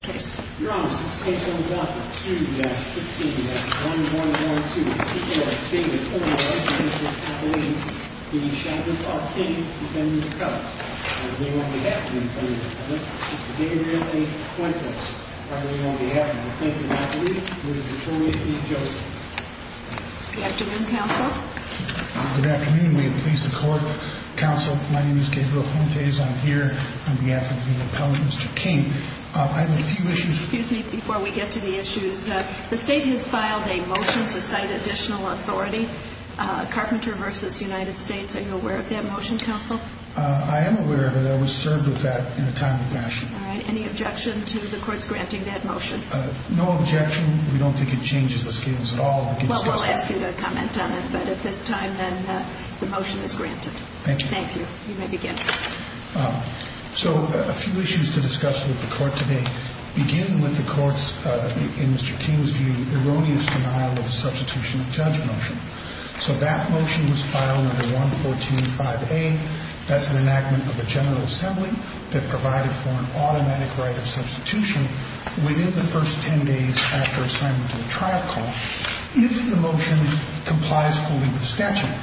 Good afternoon, Council. Good afternoon. My name is Gabriel Fontes. I'm here on behalf of the Appellant, Mr. King. The State has filed a motion to cite additional authority, Carpenter v. United States. Are you aware of that motion, Council? I am aware of it. I was served with that in a timely fashion. Any objection to the courts granting that motion? No objection. We don't think it changes the scales at all. Well, we'll ask you to comment on it, but at this time, then, the motion is granted. Thank you. You may begin. So, a few issues to discuss with the Court today. Begin with the Court's, in Mr. King's view, erroneous denial of the substitution of judge motion. So that motion was filed under 114.5a. That's an enactment of the General Assembly that provided for an automatic right of substitution within the first 10 days after assignment to a trial call, if the motion complies fully with statute.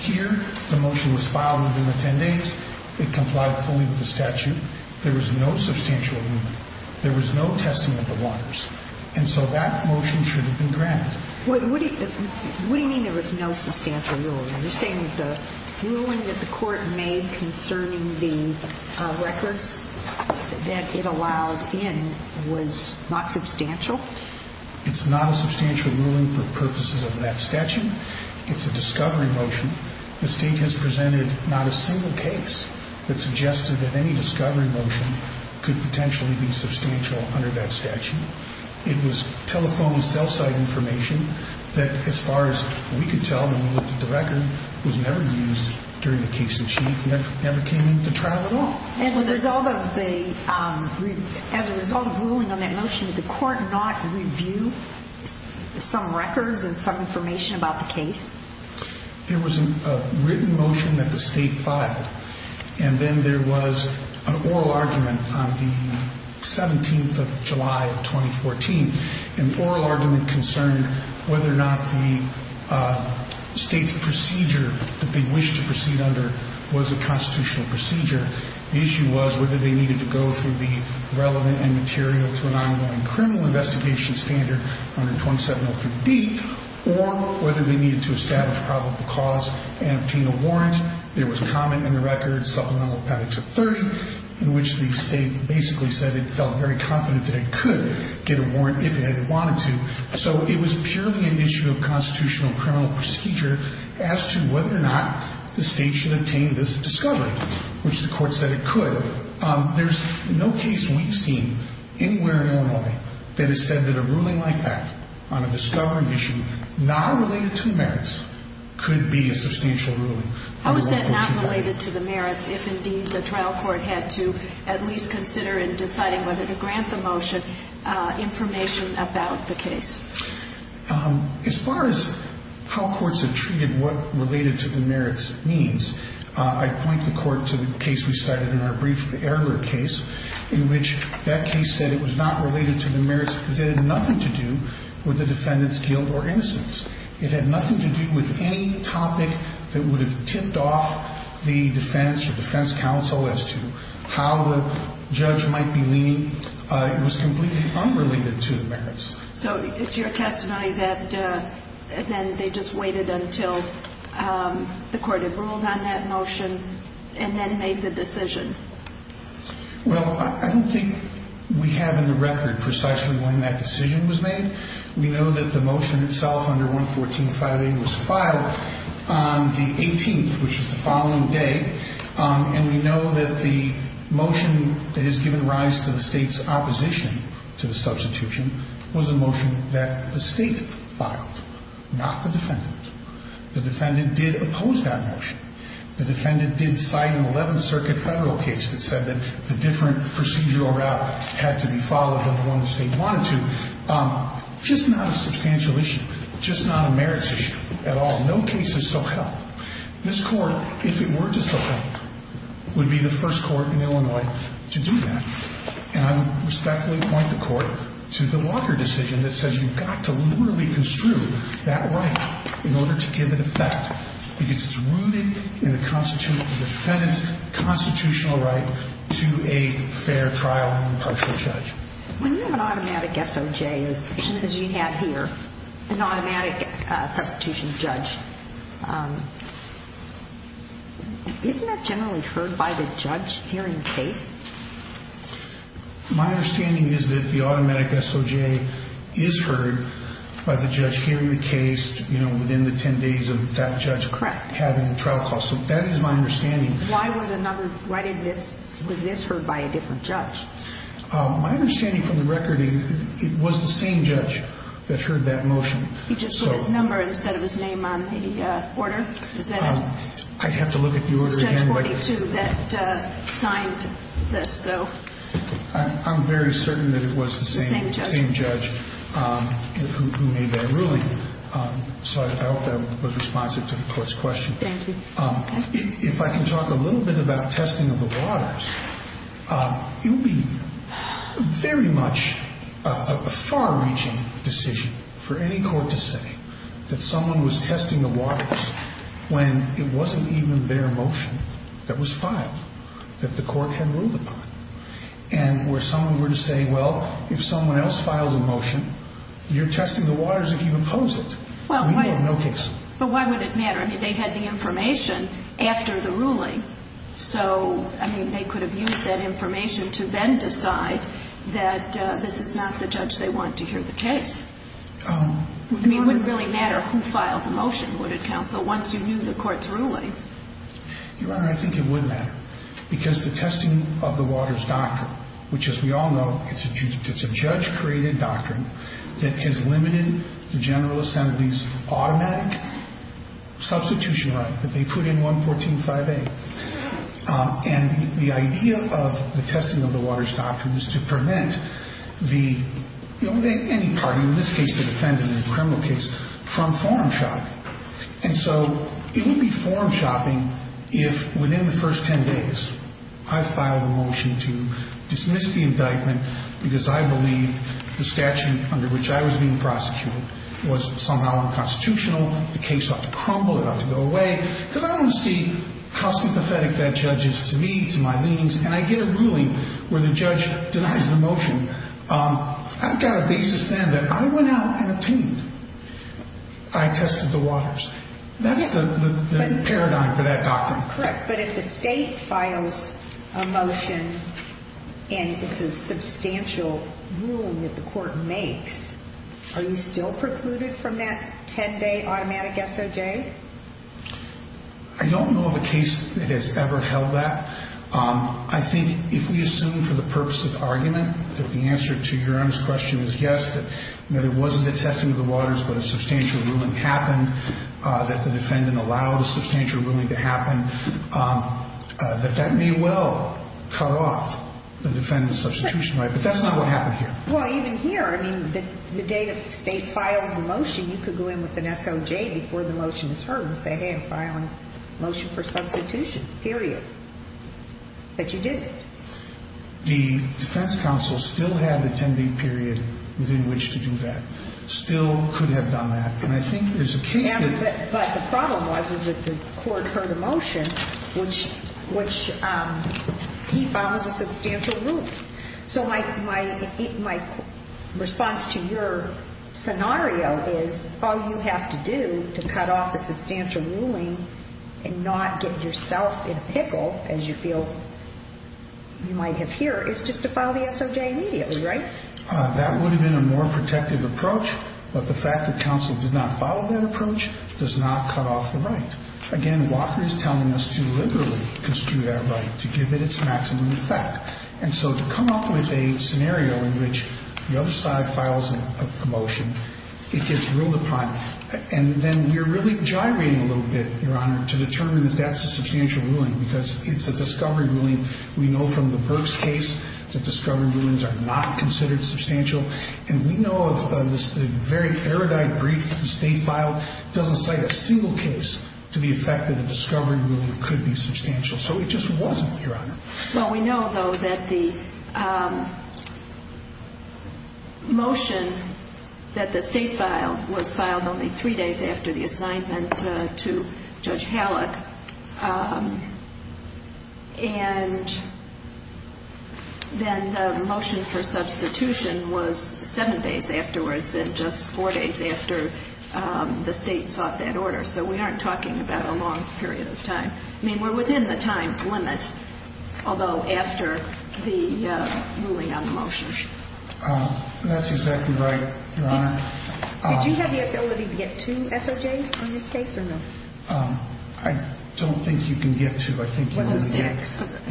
Here, the motion was filed within the 10 days. It complied fully with the statute. There was no substantial ruling. There was no testing of the waters. And so that motion should have been granted. What do you mean there was no substantial ruling? Are you saying that the ruling that the Court made concerning the records that it allowed in was not substantial? It's not a substantial ruling for purposes of that statute. It's a discovery motion. The State has presented not a single case that suggested that any discovery motion could potentially be substantial under that statute. It was telephone and cell site information that, as far as we could tell when we looked at the record, was never used during the case in chief. As a result of ruling on that motion, did the Court not review some records and some information about the case? There was a written motion that the State filed, and then there was an oral argument on the 17th of July of 2014. An oral argument concerned whether or not the State's procedure that they wished to proceed under was a constitutional procedure. The issue was whether they needed to go through the relevant and material to an ongoing criminal investigation standard under 2703D, or whether they needed to establish probable cause and obtain a warrant. There was a comment in the record, supplemental to 30, in which the State basically said it felt very confident that it could get a warrant if it wanted to. So it was purely an issue of constitutional criminal procedure as to whether or not the State should obtain this discovery, which the Court said it could. There's no case we've seen anywhere in Illinois that has said that a ruling like that on a discovery issue not related to the merits could be a substantial ruling. How is that not related to the merits if, indeed, the trial court had to at least consider in deciding whether to grant the motion information about the case? As far as how courts have treated what related to the merits means, I point the Court to the case we cited in our brief, the Erler case, in which that case said it was not related to the merits because it had nothing to do with the defendant's guilt or innocence. It had nothing to do with any topic that would have tipped off the defense or defense counsel as to how the judge might be leaning. It was completely unrelated to the merits. So it's your testimony that then they just waited until the Court had ruled on that motion and then made the decision? Well, I don't think we have in the record precisely when that decision was made. We know that the motion itself under 114.58 was filed on the 18th, which was the following day. And we know that the motion that has given rise to the State's opposition to the substitution was a motion that the State filed, not the defendant. The defendant did oppose that motion. The defendant did cite an 11th Circuit federal case that said that the different procedural route had to be followed than the one the State wanted to. Just not a substantial issue, just not a merits issue at all. No case has so helped. This Court, if it were to so help, would be the first Court in Illinois to do that. And I would respectfully point the Court to the Walker decision that says you've got to literally construe that right in order to give it effect, because it's rooted in the defendant's constitutional right to a fair trial and impartial judge. When you have an automatic SOJ, as you have here, an automatic substitution judge, isn't that generally heard by the judge hearing the case? My understanding is that the automatic SOJ is heard by the judge hearing the case within the 10 days of that judge having a trial call. Correct. So that is my understanding. Why was this heard by a different judge? My understanding from the record, it was the same judge that heard that motion. He just put his number instead of his name on the order? I'd have to look at the order again. It was Judge 42 that signed this. I'm very certain that it was the same judge who made that ruling. So I hope that was responsive to the Court's question. Thank you. If I can talk a little bit about testing of the waters, it would be very much a far-reaching decision for any court to say that someone was testing the waters when it wasn't even their motion that was filed that the Court had ruled upon, and where someone were to say, well, if someone else files a motion, you're testing the waters if you oppose it. We have no case. But why would it matter? I mean, they had the information after the ruling. So, I mean, they could have used that information to then decide that this is not the judge they want to hear the case. I mean, it wouldn't really matter who filed the motion, would it, counsel, once you knew the Court's ruling? Your Honor, I think it would matter because the testing of the waters doctrine, which, as we all know, it's a judge-created doctrine that has limited the General Assembly's automatic substitution right that they put in 114.5a. And the idea of the testing of the waters doctrine is to prevent any party, in this case the defendant in the criminal case, from forum shopping. And so it would be forum shopping if, within the first 10 days, I filed a motion to dismiss the indictment because I believe the statute under which I was being prosecuted was somehow unconstitutional, the case ought to crumble, it ought to go away, because I don't see how sympathetic that judge is to me, to my leanings, and I get a ruling where the judge denies the motion. I've got a basis then that I went out and obtained. I tested the waters. That's the paradigm for that doctrine. Correct. But if the State files a motion and it's a substantial ruling that the Court makes, are you still precluded from that 10-day automatic SOJ? I don't know of a case that has ever held that. I think if we assume for the purpose of argument that the answer to Your Honor's question is yes, that there wasn't a testing of the waters but a substantial ruling happened, that the defendant allowed a substantial ruling to happen, that that may well cut off the defendant's substitution right. But that's not what happened here. Well, even here, I mean, the day the State files the motion, you could go in with an SOJ before the motion is heard and say, hey, I'm filing a motion for substitution, period. But you didn't. The defense counsel still had the 10-day period within which to do that, still could have done that. And I think there's a case that the court heard a motion which he found was a substantial ruling. So my response to your scenario is all you have to do to cut off a substantial ruling and not get yourself in a pickle, as you feel you might have here, is just to file the SOJ immediately, right? That would have been a more protective approach. But the fact that counsel did not follow that approach does not cut off the right. Again, Walker is telling us to liberally construe that right, to give it its maximum effect. And so to come up with a scenario in which the other side files a motion, it gets ruled upon. And then we're really gyrating a little bit, Your Honor, to determine that that's a substantial ruling because it's a discovery ruling. We know from the Burks case that discovery rulings are not considered substantial. And we know of the very erudite brief that the State filed. It doesn't cite a single case to the effect that a discovery ruling could be substantial. So it just wasn't, Your Honor. Well, we know, though, that the motion that the State filed was filed only three days after the assignment to Judge Halleck. And then the motion for substitution was seven days afterwards and just four days after the State sought that order. So we aren't talking about a long period of time. I mean, we're within the time limit, although after the ruling on the motion. That's exactly right, Your Honor. Did you have the ability to get two SOJs on this case or no? I don't think you can get two. I think you can only get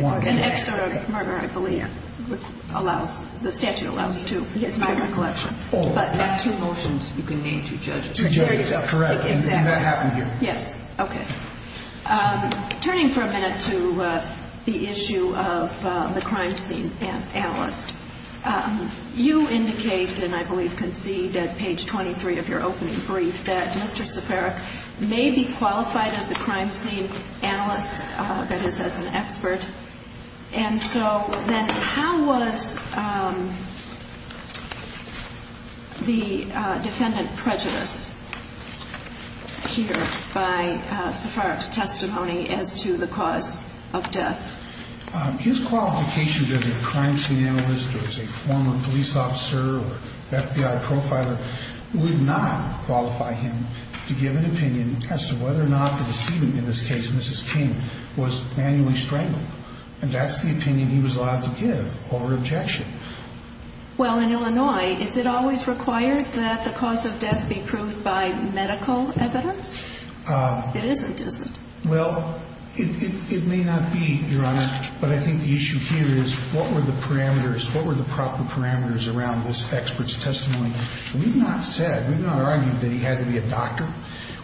one. An extra murder, I believe, allows the statute allows two. It's not in the collection. But two motions, you can name two judges. Correct. And that happened here. Yes. Okay. Turning for a minute to the issue of the crime scene analyst, you indicate, and I believe concede at page 23 of your opening brief, that Mr. Seperic may be qualified as a crime scene analyst, that is, as an expert. And so then how was the defendant prejudiced here by Seperic's testimony as to the cause of death? His qualifications as a crime scene analyst or as a former police officer or FBI profiler would not qualify him to give an opinion as to whether or not the decedent, in this case Mrs. King, was manually strangled. And that's the opinion he was allowed to give over objection. Well, in Illinois, is it always required that the cause of death be proved by medical evidence? It isn't, is it? Well, it may not be, Your Honor. But I think the issue here is what were the parameters, what were the proper parameters around this expert's testimony? We've not said, we've not argued that he had to be a doctor.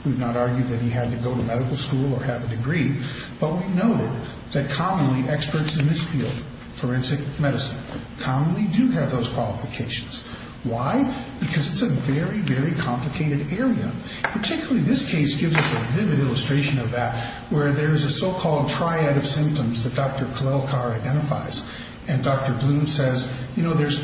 We've not argued that he had to go to medical school or have a degree. But we've noted that commonly experts in this field, forensic medicine, commonly do have those qualifications. Why? Because it's a very, very complicated area. Particularly this case gives us a vivid illustration of that, where there is a so-called triad of symptoms that Dr. Kolelkar identifies. And Dr. Bloom says, you know, there's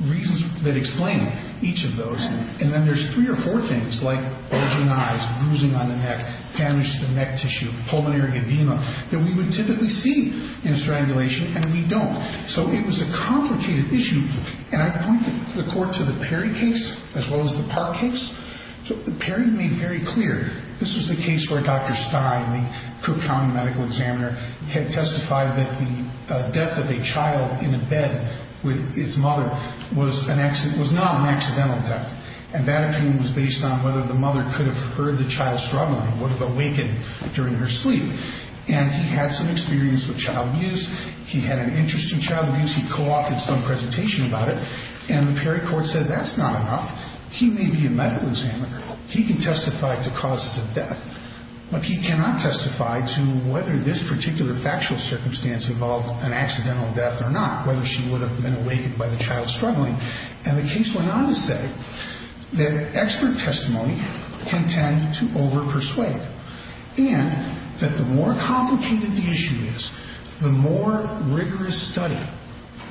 reasons that explain each of those. And then there's three or four things, like bulging eyes, bruising on the neck, damage to the neck tissue, pulmonary edema, that we would typically see in a strangulation, and we don't. So it was a complicated issue. And I point the Court to the Perry case as well as the Park case. So Perry made very clear this was the case where Dr. Stein, the Cook County medical examiner, had testified that the death of a child in a bed with its mother was not an accidental death. And that opinion was based on whether the mother could have heard the child struggling, would have awakened during her sleep. And he had some experience with child abuse. He had an interest in child abuse. He co-authored some presentation about it. And the Perry Court said that's not enough. He may be a medical examiner. He can testify to causes of death. But he cannot testify to whether this particular factual circumstance involved an accidental death or not, whether she would have been awakened by the child struggling. And the case went on to say that expert testimony can tend to overpersuade. And that the more complicated the issue is, the more rigorous study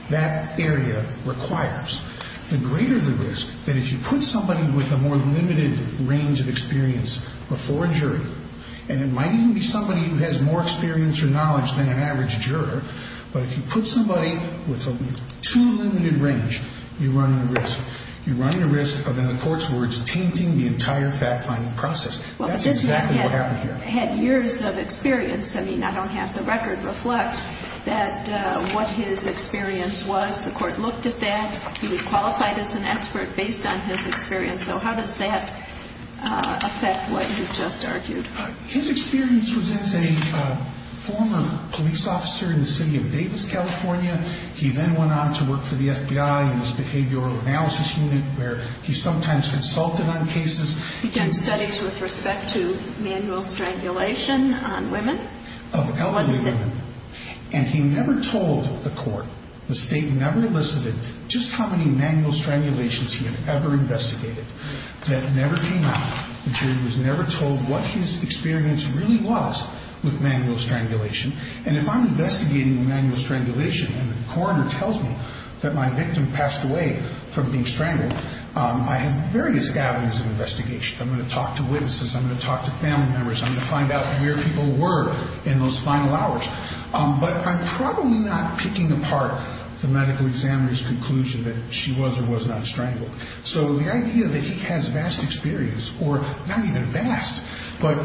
that area requires. The greater the risk that if you put somebody with a more limited range of experience before a jury, and it might even be somebody who has more experience or knowledge than an average juror, but if you put somebody with a too limited range, you run the risk. You run the risk of, in the court's words, tainting the entire fact-finding process. That's exactly what happened here. But this man had years of experience. I mean, I don't have the record. It reflects what his experience was. The court looked at that. He was qualified as an expert based on his experience. So how does that affect what you just argued? His experience was as a former police officer in the city of Davis, California. He then went on to work for the FBI in this behavioral analysis unit where he sometimes consulted on cases. He did studies with respect to manual strangulation on women. Of elderly women. And he never told the court, the State never elicited, just how many manual strangulations he had ever investigated. That never came out. The jury was never told what his experience really was with manual strangulation. And if I'm investigating manual strangulation and the coroner tells me that my victim passed away from being strangled, I have various avenues of investigation. I'm going to talk to witnesses. I'm going to talk to family members. I'm going to find out where people were in those final hours. But I'm probably not picking apart the medical examiner's conclusion that she was or was not strangled. So the idea that he has vast experience, or not even vast, but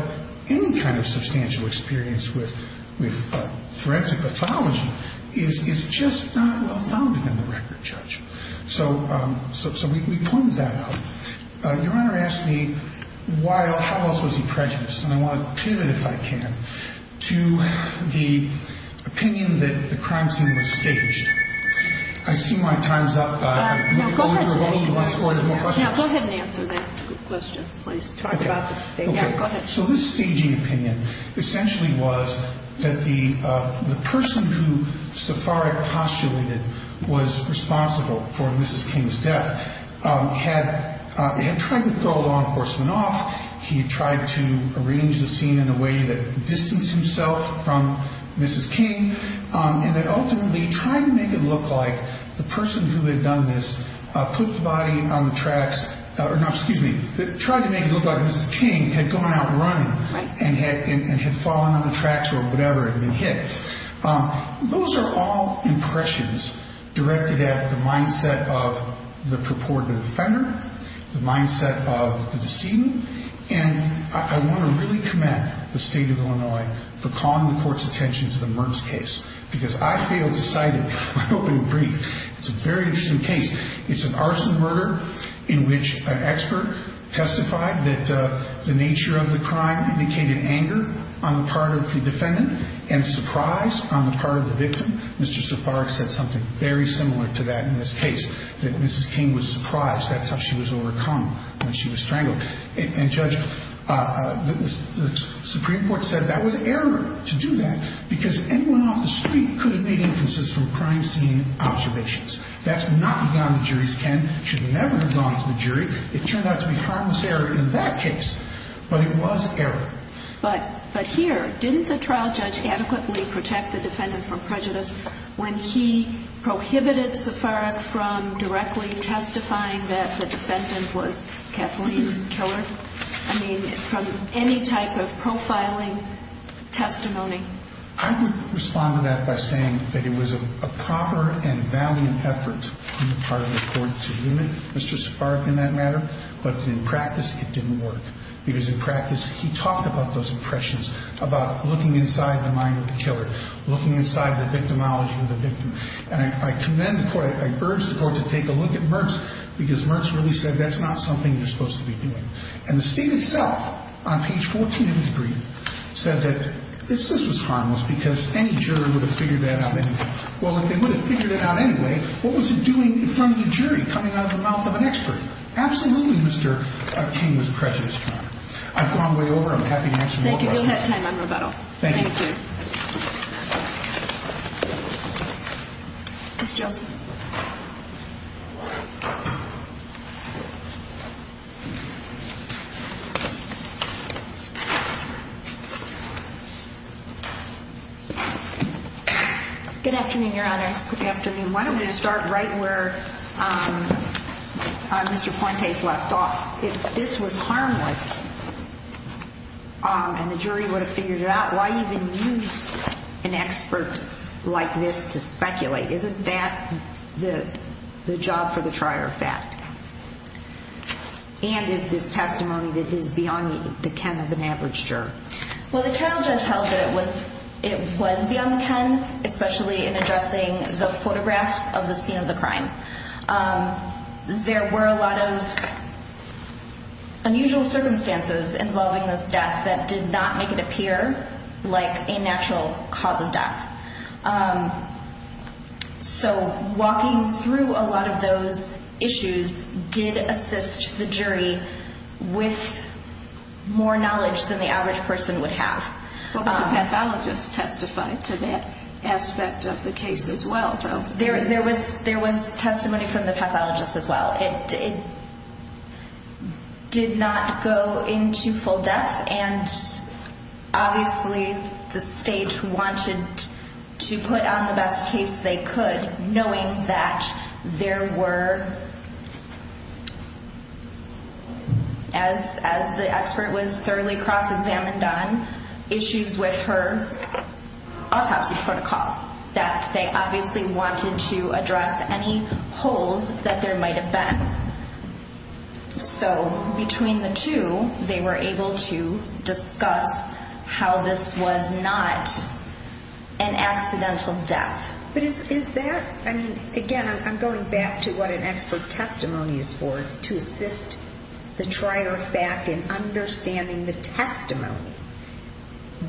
any kind of substantial experience with forensic pathology is just not well-founded in the record, Judge. So we pointed that out. Your Honor asked me how else was he prejudiced. And I want to pivot, if I can, to the opinion that the crime scene was staged. I see my time's up. Now, go ahead and answer that question, please. Okay. Go ahead. So this staging opinion essentially was that the person who Safarek postulated was responsible for Mrs. King's death had tried to throw law enforcement off. He had tried to arrange the scene in a way that distanced himself from Mrs. King and that ultimately tried to make it look like the person who had done this put the body on the tracks or not, excuse me, tried to make it look like Mrs. King had gone out running and had fallen on the tracks or whatever and been hit. Those are all impressions directed at the mindset of the purported offender, the mindset of the decedent. And I want to really commend the State of Illinois for calling the Court's attention to the Mertz case because I feel decided, I hope in a brief, it's a very interesting case. It's an arson murder in which an expert testified that the nature of the crime indicated anger on the part of the defendant and surprise on the part of the victim. Mr. Safarek said something very similar to that in this case, that Mrs. King was surprised. That's how she was overcome when she was strangled. And, Judge, the Supreme Court said that was error to do that because anyone off the street could have made inferences from crime scene observations. That's knocking down the jury's can. It should never have gone to the jury. It turned out to be harmless error in that case, but it was error. But here, didn't the trial judge adequately protect the defendant from prejudice when he prohibited Safarek from directly testifying that the defendant was Kathleen's killer? I mean, from any type of profiling testimony. I would respond to that by saying that it was a proper and valiant effort on the part of the Court to limit Mr. Safarek in that matter, but in practice it didn't work because in practice he talked about those impressions, about looking inside the mind of the killer, looking inside the victimology of the victim. And I commend the Court, I urge the Court to take a look at Mertz because Mertz really said that's not something you're supposed to be doing. And the State itself on page 14 of his brief said that this was harmless because any jury would have figured that out anyway. Well, if they would have figured it out anyway, what was it doing in front of the jury coming out of the mouth of an expert? Absolutely Mr. King was prejudiced, Your Honor. I've gone way over. I'm happy to answer any questions. Thank you. You'll have time on rebuttal. Thank you. Ms. Joseph. Good afternoon, Your Honors. Good afternoon. Why don't we start right where Mr. Fuentes left off. If this was harmless and the jury would have figured it out, why even use an expert like this to speculate? Isn't that the job for the trier of fact? And is this testimony that is beyond the ken of an average juror? Well, the trial judge held that it was beyond the ken, especially in addressing the photographs of the scene of the crime. There were a lot of unusual circumstances involving this death that did not make it appear like a natural cause of death. So walking through a lot of those issues did assist the jury with more knowledge than the average person would have. But the pathologist testified to that aspect of the case as well, though. There was testimony from the pathologist as well. It did not go into full depth, and obviously the state wanted to put on the best case they could, knowing that there were, as the expert was thoroughly cross-examined on, issues with her autopsy protocol, that they obviously wanted to address any holes that there might have been. So between the two, they were able to discuss how this was not an accidental death. But is that, I mean, again, I'm going back to what an expert testimony is for. It's to assist the trier of fact in understanding the testimony.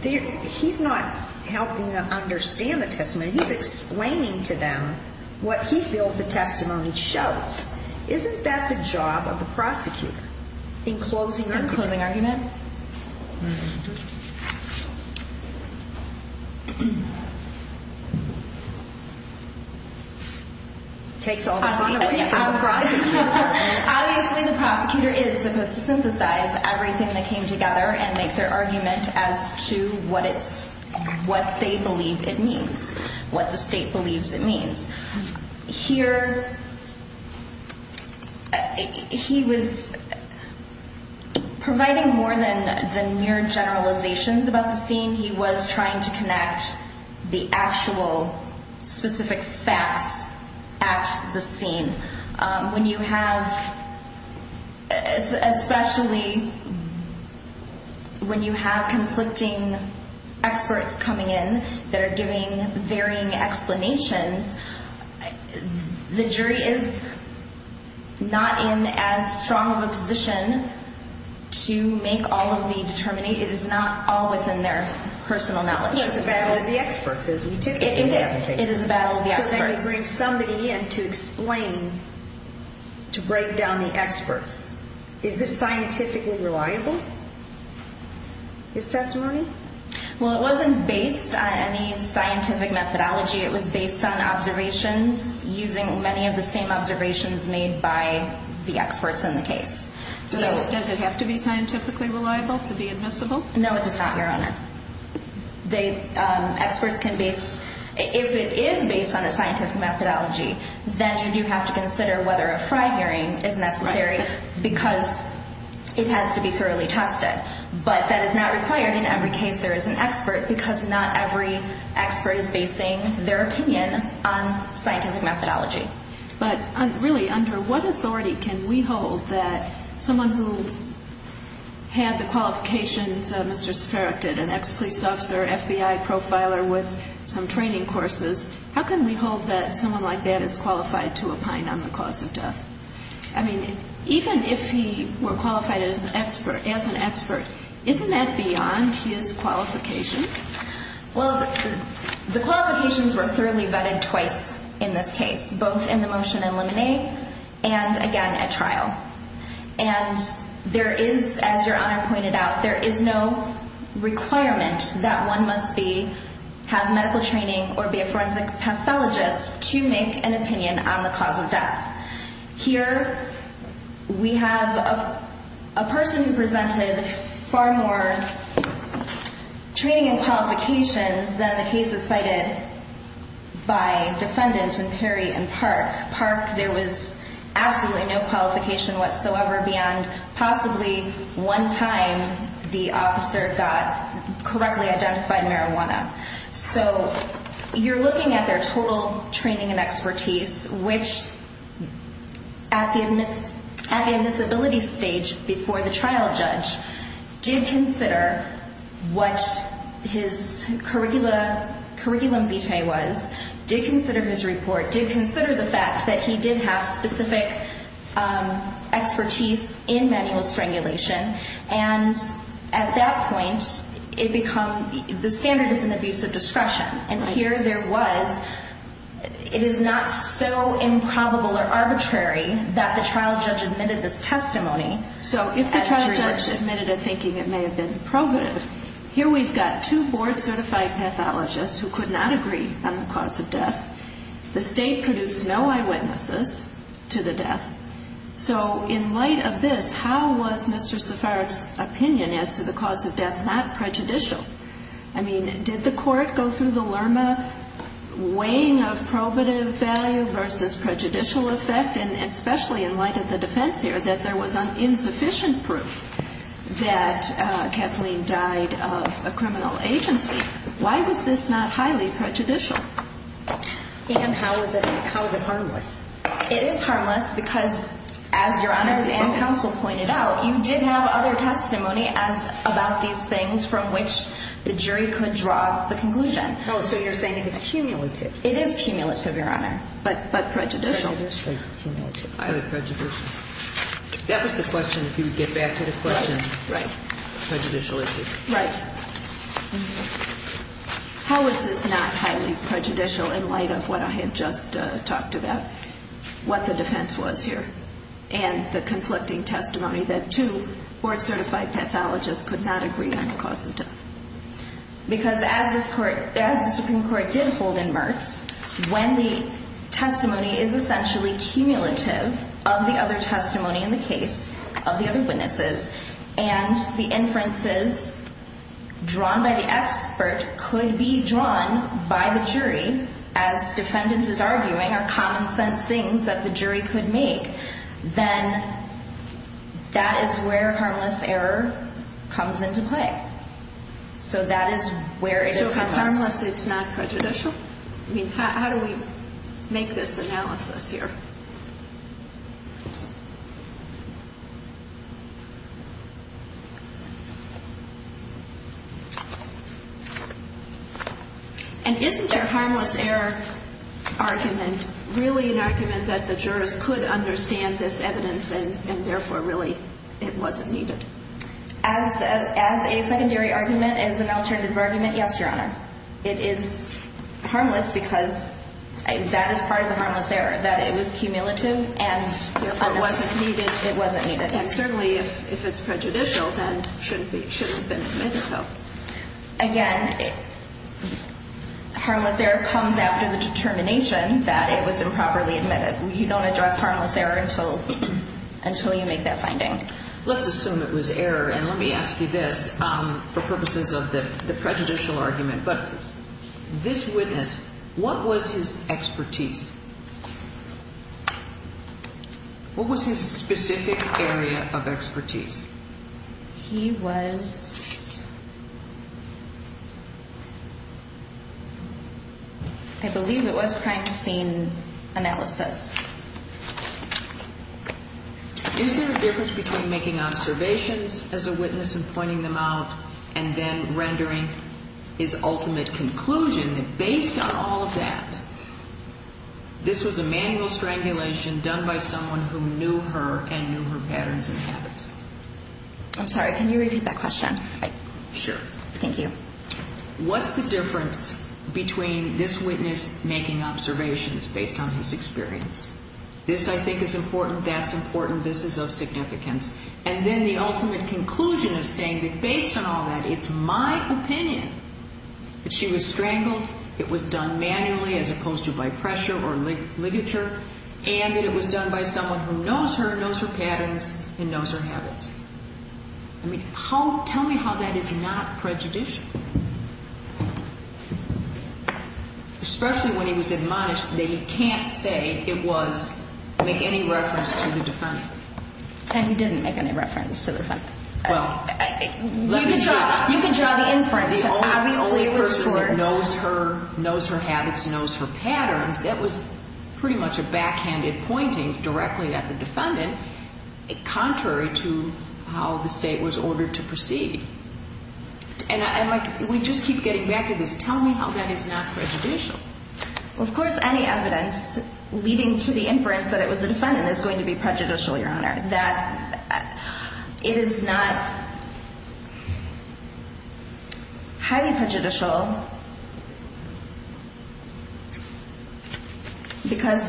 He's not helping them understand the testimony. He's explaining to them what he feels the testimony shows. Isn't that the job of the prosecutor, in closing argument? In closing argument? Takes all the fun away. Obviously the prosecutor is supposed to synthesize everything that came together and make their argument as to what they believe it means, what the state believes it means. Here, he was providing more than mere generalizations about the scene. He was trying to connect the actual specific facts at the scene. When you have, especially when you have conflicting experts coming in that are giving varying explanations, the jury is not in as strong of a position to make all of the determinate. It is not all within their personal knowledge. It's a battle of the experts, as we typically do. It is. It is a battle of the experts. So they bring somebody in to explain, to break down the experts. Is this scientifically reliable, this testimony? Well, it wasn't based on any scientific methodology. It was based on observations using many of the same observations made by the experts in the case. Does it have to be scientifically reliable to be admissible? No, it does not, Your Honor. They, experts can base, if it is based on a scientific methodology, then you do have to consider whether a fry hearing is necessary because it has to be thoroughly tested. But that is not required in every case there is an expert because not every expert is basing their opinion on scientific methodology. But really, under what authority can we hold that someone who had the qualifications Mr. Sferak did, an ex-police officer, FBI profiler with some training courses, how can we hold that someone like that is qualified to opine on the cause of death? I mean, even if he were qualified as an expert, isn't that beyond his qualifications? Well, the qualifications were thoroughly vetted twice in this case, both in the motion in limine and, again, at trial. And there is, as Your Honor pointed out, there is no requirement that one must have medical training or be a forensic pathologist to make an opinion on the cause of death. Here we have a person who presented far more training and qualifications than the cases cited by Defendant and Perry and Park. Park, there was absolutely no qualification whatsoever beyond possibly one time the officer got correctly identified marijuana. So you're looking at their total training and expertise, which at the admissibility stage before the trial judge did consider what his curriculum vitae was, did consider his report, did consider the fact that he did have specific expertise in manual strangulation. And at that point, the standard is an abuse of discretion. And here there was. It is not so improbable or arbitrary that the trial judge admitted this testimony. So if the trial judge admitted it thinking it may have been probative, here we've got two board-certified pathologists who could not agree on the cause of death. The State produced no eyewitnesses to the death. So in light of this, how was Mr. Safaric's opinion as to the cause of death not prejudicial? I mean, did the court go through the Lerma weighing of probative value versus prejudicial effect? And especially in light of the defense here, that there was insufficient proof that Kathleen died of a criminal agency. Why was this not highly prejudicial? And how is it harmless? It is harmless because, as Your Honors and counsel pointed out, you did have other testimony about these things from which the jury could draw the conclusion. Oh, so you're saying it is cumulative. It is cumulative, Your Honor, but prejudicial. That was the question, if you would get back to the question. Right. Prejudicial issue. Right. How is this not highly prejudicial in light of what I had just talked about, what the defense was here, and the conflicting testimony that two board-certified pathologists could not agree on the cause of death? Because as the Supreme Court did hold in Merckx, when the testimony is essentially cumulative of the other testimony in the case of the other witnesses and the inferences drawn by the expert could be drawn by the jury, as defendant is arguing are common-sense things that the jury could make, then that is where harmless error comes into play. So that is where it is harmless. So if it's harmless, it's not prejudicial? I mean, how do we make this analysis here? And isn't your harmless error argument really an argument that the jurors could understand this evidence and, therefore, really it wasn't needed? As a secondary argument, as an alternative argument, yes, Your Honor. It is harmless because that is part of the harmless error, that it was cumulative and, therefore, it wasn't needed. And certainly if it's prejudicial, then it shouldn't have been admitted, though. Again, harmless error comes after the determination that it was improperly admitted. You don't address harmless error until you make that finding. Let's assume it was error, and let me ask you this for purposes of the prejudicial argument. But this witness, what was his expertise? What was his specific area of expertise? He was, I believe it was crime scene analysis. Is there a difference between making observations as a witness and pointing them out and then rendering his ultimate conclusion? That based on all of that, this was a manual strangulation done by someone who knew her and knew her patterns and habits. I'm sorry. Can you repeat that question? Sure. Thank you. What's the difference between this witness making observations based on his experience? This, I think, is important. That's important. This is of significance. And then the ultimate conclusion of saying that based on all that, it's my opinion that she was strangled, it was done manually as opposed to by pressure or ligature, and that it was done by someone who knows her, knows her patterns, and knows her habits. I mean, tell me how that is not prejudicial, especially when he was admonished that he can't say it was, make any reference to the defendant. And he didn't make any reference to the defendant. Well, let me show you. You can show the inference. The only person that knows her, knows her habits, knows her patterns, that was pretty much a backhanded pointing directly at the defendant, contrary to how the State was ordered to proceed. And we just keep getting back to this. Tell me how that is not prejudicial. Well, of course, any evidence leading to the inference that it was the defendant is going to be prejudicial, Your Honor. That is not highly prejudicial because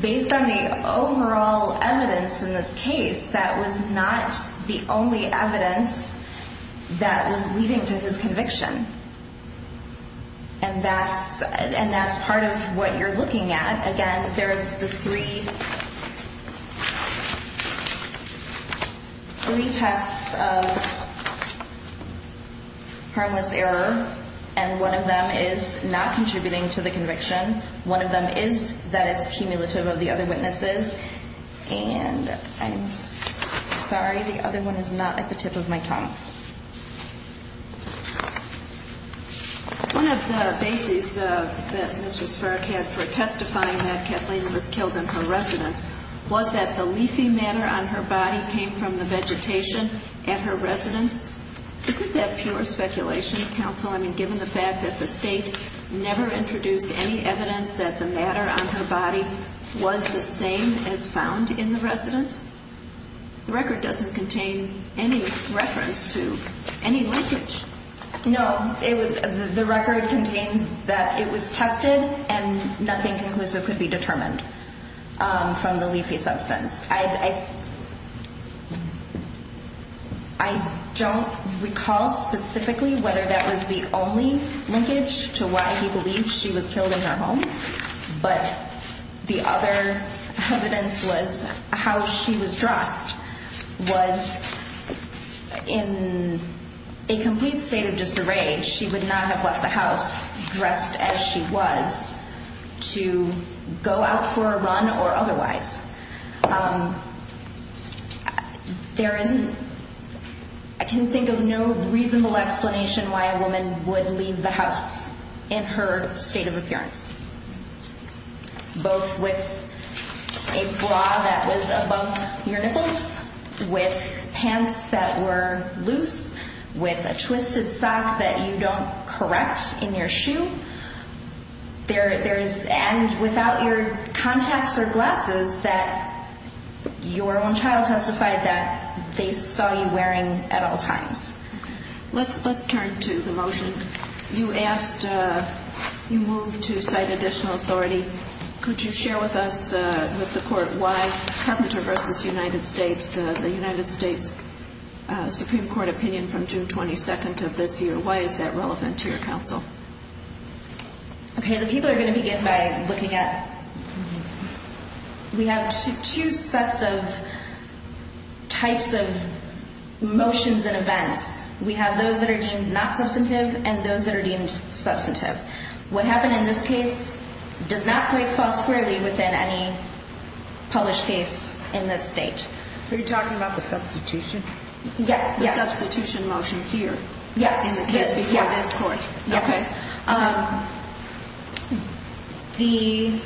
based on the overall evidence in this case, that was not the only evidence that was leading to his conviction. And that's part of what you're looking at. Again, there are the three tests of harmless error, and one of them is not contributing to the conviction. One of them is that it's cumulative of the other witnesses. And I'm sorry, the other one is not at the tip of my tongue. One of the bases that Mr. Sparck had for testifying that Kathleen was killed in her residence was that the leafy matter on her body came from the vegetation at her residence. Isn't that pure speculation, counsel? I mean, given the fact that the State never introduced any evidence that the matter on her body was the same as found in the residence, the record doesn't contain any reference to any linkage. No, the record contains that it was tested and nothing conclusive could be determined from the leafy substance. I don't recall specifically whether that was the only linkage to why he believed she was killed in her home, but the other evidence was how she was dressed was in a complete state of disarray. She would not have left the house dressed as she was to go out for a run or otherwise. There is, I can think of no reasonable explanation why a woman would leave the house in her state of appearance, both with a bra that was above your nipples, with pants that were loose, with a twisted sock that you don't correct in your shoe. There is, and without your contacts or glasses, that your own child testified that they saw you wearing at all times. Let's turn to the motion. You asked, you moved to cite additional authority. Could you share with us, with the court, why Carpenter v. United States, the United States Supreme Court opinion from June 22nd of this year, why is that relevant to your counsel? Okay, the people are going to begin by looking at, we have two sets of types of motions and events. We have those that are deemed not substantive and those that are deemed substantive. What happened in this case does not quite fall squarely within any published case in this state. Are you talking about the substitution? Yes. The substitution motion here. Yes. This before this court. Yes. Okay.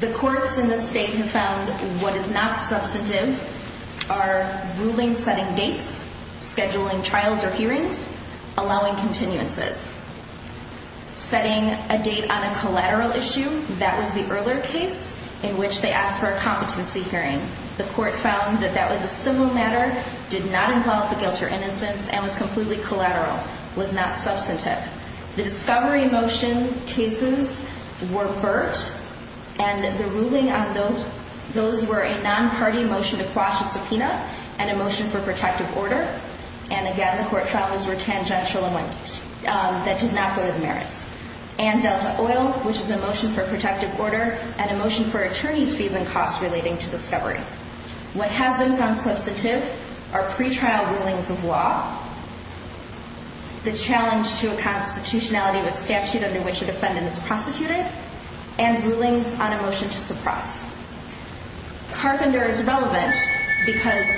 The courts in this state have found what is not substantive are ruling setting dates, scheduling trials or hearings, allowing continuances. Setting a date on a collateral issue, that was the earlier case in which they asked for a competency hearing. The court found that that was a civil matter, did not involve the guilt or innocence, and was completely collateral, was not substantive. The discovery motion cases were Burt and the ruling on those, those were a non-party motion to quash a subpoena and a motion for protective order. And, again, the court found those were tangential amendments that did not go to the merits. And Delta Oil, which is a motion for protective order and a motion for attorney's fees and costs relating to discovery. What has been found substantive are pretrial rulings of law, the challenge to a constitutionality of a statute under which a defendant is prosecuted, and rulings on a motion to suppress. Carpenter is relevant because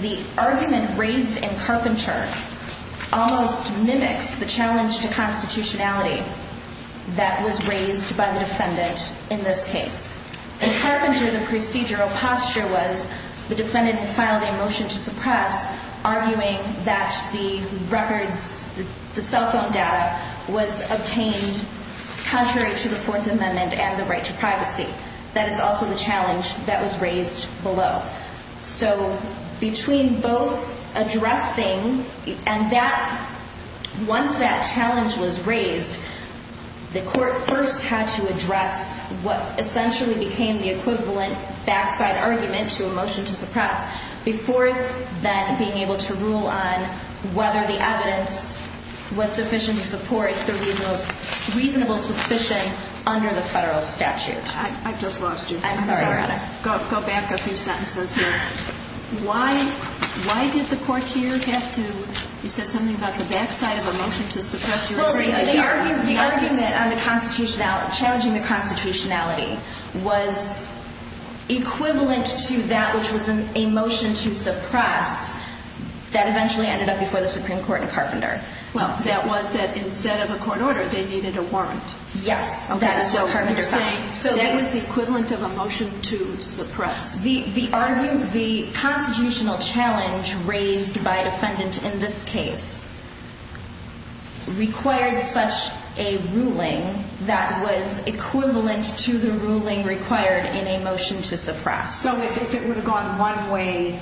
the argument raised in Carpenter almost mimics the challenge to constitutionality that was raised by the defendant in this case. In Carpenter, the procedural posture was the defendant filed a motion to suppress, arguing that the records, the cell phone data, was obtained contrary to the Fourth Amendment and the right to privacy. That is also the challenge that was raised below. So between both addressing, and once that challenge was raised, the court first had to address what essentially became the equivalent backside argument to a motion to suppress, before then being able to rule on whether the evidence was sufficient to support the reasonable suspicion under the federal statute. I just lost you. I'm sorry about it. Go back a few sentences here. Why did the court here have to, you said something about the backside of a motion to suppress. The argument on the constitutionality, challenging the constitutionality, was equivalent to that which was a motion to suppress, that eventually ended up before the Supreme Court in Carpenter. Well, that was that instead of a court order, they needed a warrant. Yes, that is what Carpenter said. So that was the equivalent of a motion to suppress. The constitutional challenge raised by a defendant in this case required such a ruling that was equivalent to the ruling required in a motion to suppress. So if it would have gone one way,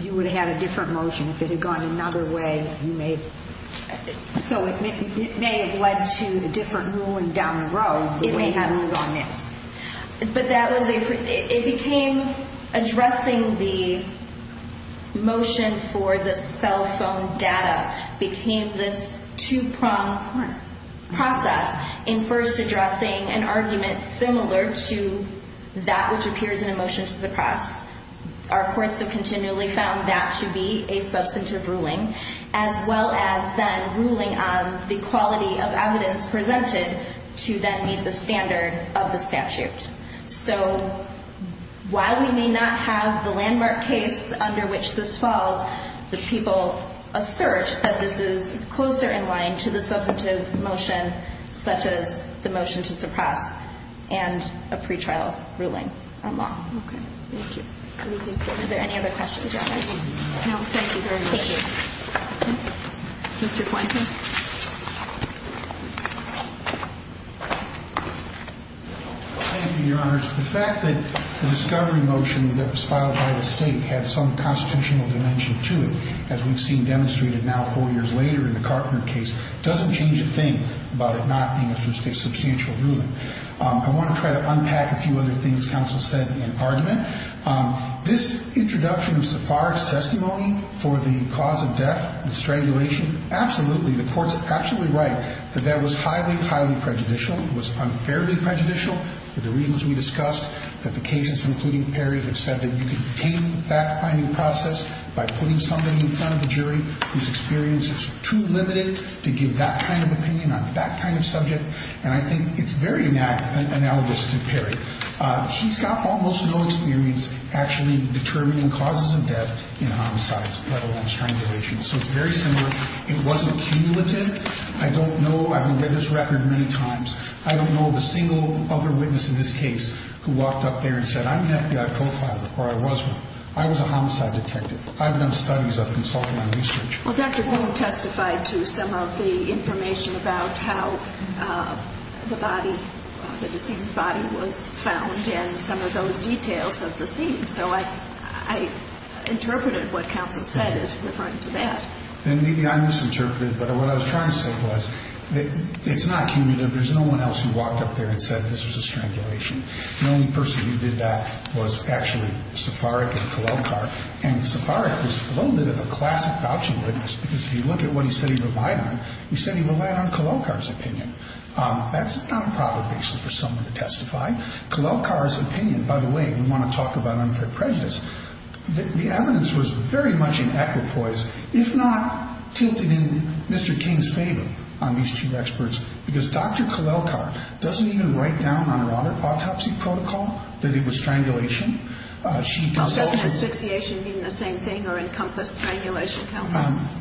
you would have had a different motion. If it had gone another way, you may, so it may have led to a different ruling down the road. It may have moved on this. But it became addressing the motion for the cell phone data became this two-prong process in first addressing an argument similar to that which appears in a motion to suppress. Our courts have continually found that to be a substantive ruling, as well as then ruling on the quality of evidence presented to then meet the standard of the statute. So while we may not have the landmark case under which this falls, the people assert that this is closer in line to the substantive motion such as the motion to suppress and a pretrial ruling on law. Okay. Thank you. Are there any other questions? No. Thank you very much. Mr. Fuentes. Thank you, Your Honor. The fact that the discovery motion that was filed by the State had some constitutional dimension to it, as we've seen demonstrated now four years later in the Carpenter case, doesn't change a thing about it not being a substantial ruling. I want to try to unpack a few other things counsel said in argument. This introduction of Sepharic's testimony for the cause of death, the strangulation, absolutely, the court's absolutely right that that was highly, highly prejudicial. It was unfairly prejudicial for the reasons we discussed, that the cases, including Perry, have said that you can detain the fact-finding process by putting somebody in front of the jury whose experience is too limited to give that kind of opinion on that kind of subject. And I think it's very analogous to Perry. He's got almost no experience actually determining causes of death in homicides, let alone strangulation. So it's very similar. It wasn't cumulative. I don't know. I've read his record many times. I don't know of a single other witness in this case who walked up there and said, I'm an FBI profiler, or I was one. I was a homicide detective. I've done studies. I've consulted on research. Well, Dr. Boone testified to some of the information about how the body, the deceased body, was found and some of those details of the scene. So I interpreted what counsel said as referring to that. And maybe I misinterpreted, but what I was trying to say was it's not cumulative. There's no one else who walked up there and said this was a strangulation. The only person who did that was actually Sepharic at Colell Park. And Sepharic was a little bit of a classic vouching witness, because if you look at what he said he relied on, he said he relied on Colellkar's opinion. That's not a proper basis for someone to testify. Colellkar's opinion, by the way, we want to talk about unfair prejudice, the evidence was very much in equipoise, if not tilted in Mr. King's favor on these two experts, because Dr. Colellkar doesn't even write down on her autopsy protocol that it was strangulation. Does asphyxiation mean the same thing or encompass strangulation, counsel?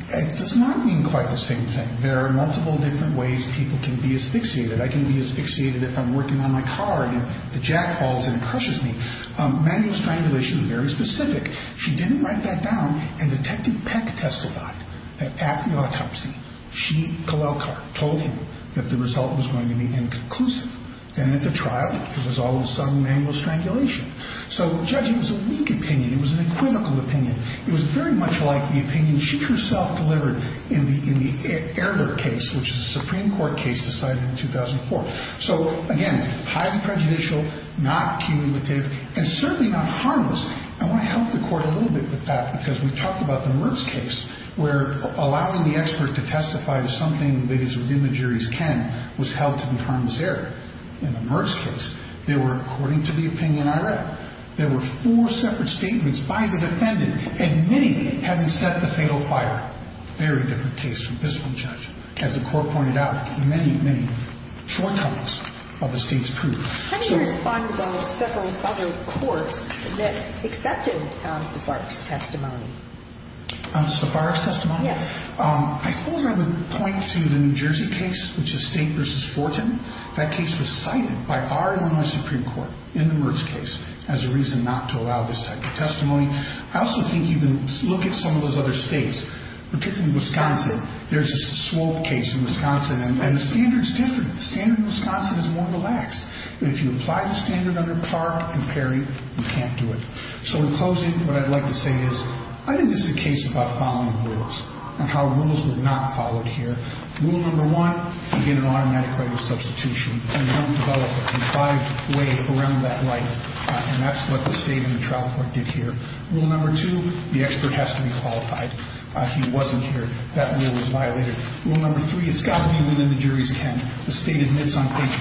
It does not mean quite the same thing. There are multiple different ways people can be asphyxiated. I can be asphyxiated if I'm working on my car and the jack falls and it crushes me. Manual strangulation is very specific. She didn't write that down, and Detective Peck testified that at the autopsy, she, Colellkar, told him that the result was going to be inconclusive. And at the trial, because there's all of a sudden manual strangulation. So, Judge, it was a weak opinion. It was an equivocal opinion. It was very much like the opinion she herself delivered in the Ehrler case, which is a Supreme Court case decided in 2004. So, again, highly prejudicial, not cumulative, and certainly not harmless. I want to help the Court a little bit with that because we talked about the Merz case where allowing the expert to testify to something that is within the jury's ken was held to be harmless error. In the Merz case, there were, according to the opinion I read, there were four separate statements by the defendant, and many hadn't set the fatal fire. Very different case from this one, Judge. As the Court pointed out, many, many shortcomings of the State's proof. How do you respond to those several other courts that accepted Safaric's testimony? Safaric's testimony? Yes. I suppose I would point to the New Jersey case, which is State v. Fortin. That case was cited by our Illinois Supreme Court in the Merz case as a reason not to allow this type of testimony. I also think you can look at some of those other states, particularly Wisconsin. There's a Swope case in Wisconsin, and the standard's different. The standard in Wisconsin is more relaxed. But if you apply the standard under Clark and Perry, you can't do it. So, in closing, what I'd like to say is I think this is a case about following rules and how rules were not followed here. Rule number one, you get an automatic right of substitution, and you don't develop it in five ways around that right. And that's what the State and the trial court did here. Rule number two, the expert has to be qualified. He wasn't here. That rule was violated. Rule number three, it's got to be within the jury's ken. The State admits on page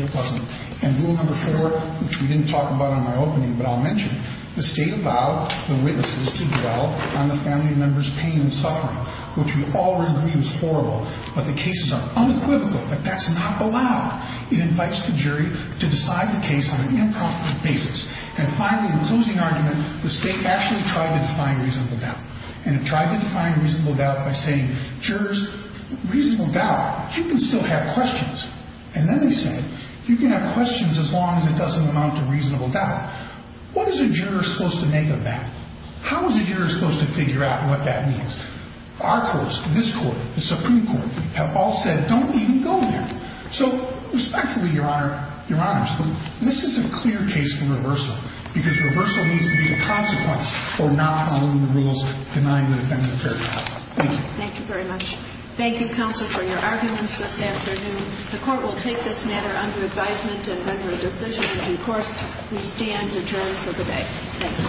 14 it wasn't. And rule number four, which we didn't talk about in my opening, but I'll mention, the State allowed the witnesses to dwell on the family member's pain and suffering, which we all agree was horrible. But the cases are unequivocal that that's not allowed. It invites the jury to decide the case on an impromptu basis. And finally, in closing argument, the State actually tried to define reasonable doubt. And it tried to define reasonable doubt by saying, jurors, reasonable doubt, you can still have questions. And then they said, you can have questions as long as it doesn't amount to reasonable doubt. What is a juror supposed to make of that? How is a juror supposed to figure out what that means? Our courts, this Court, the Supreme Court, have all said, don't even go there. So respectfully, Your Honor, Your Honors, this is a clear case for reversal because reversal needs to be a consequence for not following the rules denying the defendant fair doubt. Thank you. Thank you very much. Thank you, Counsel, for your arguments this afternoon. The Court will take this matter under advisement and vendor a decision. Thank you.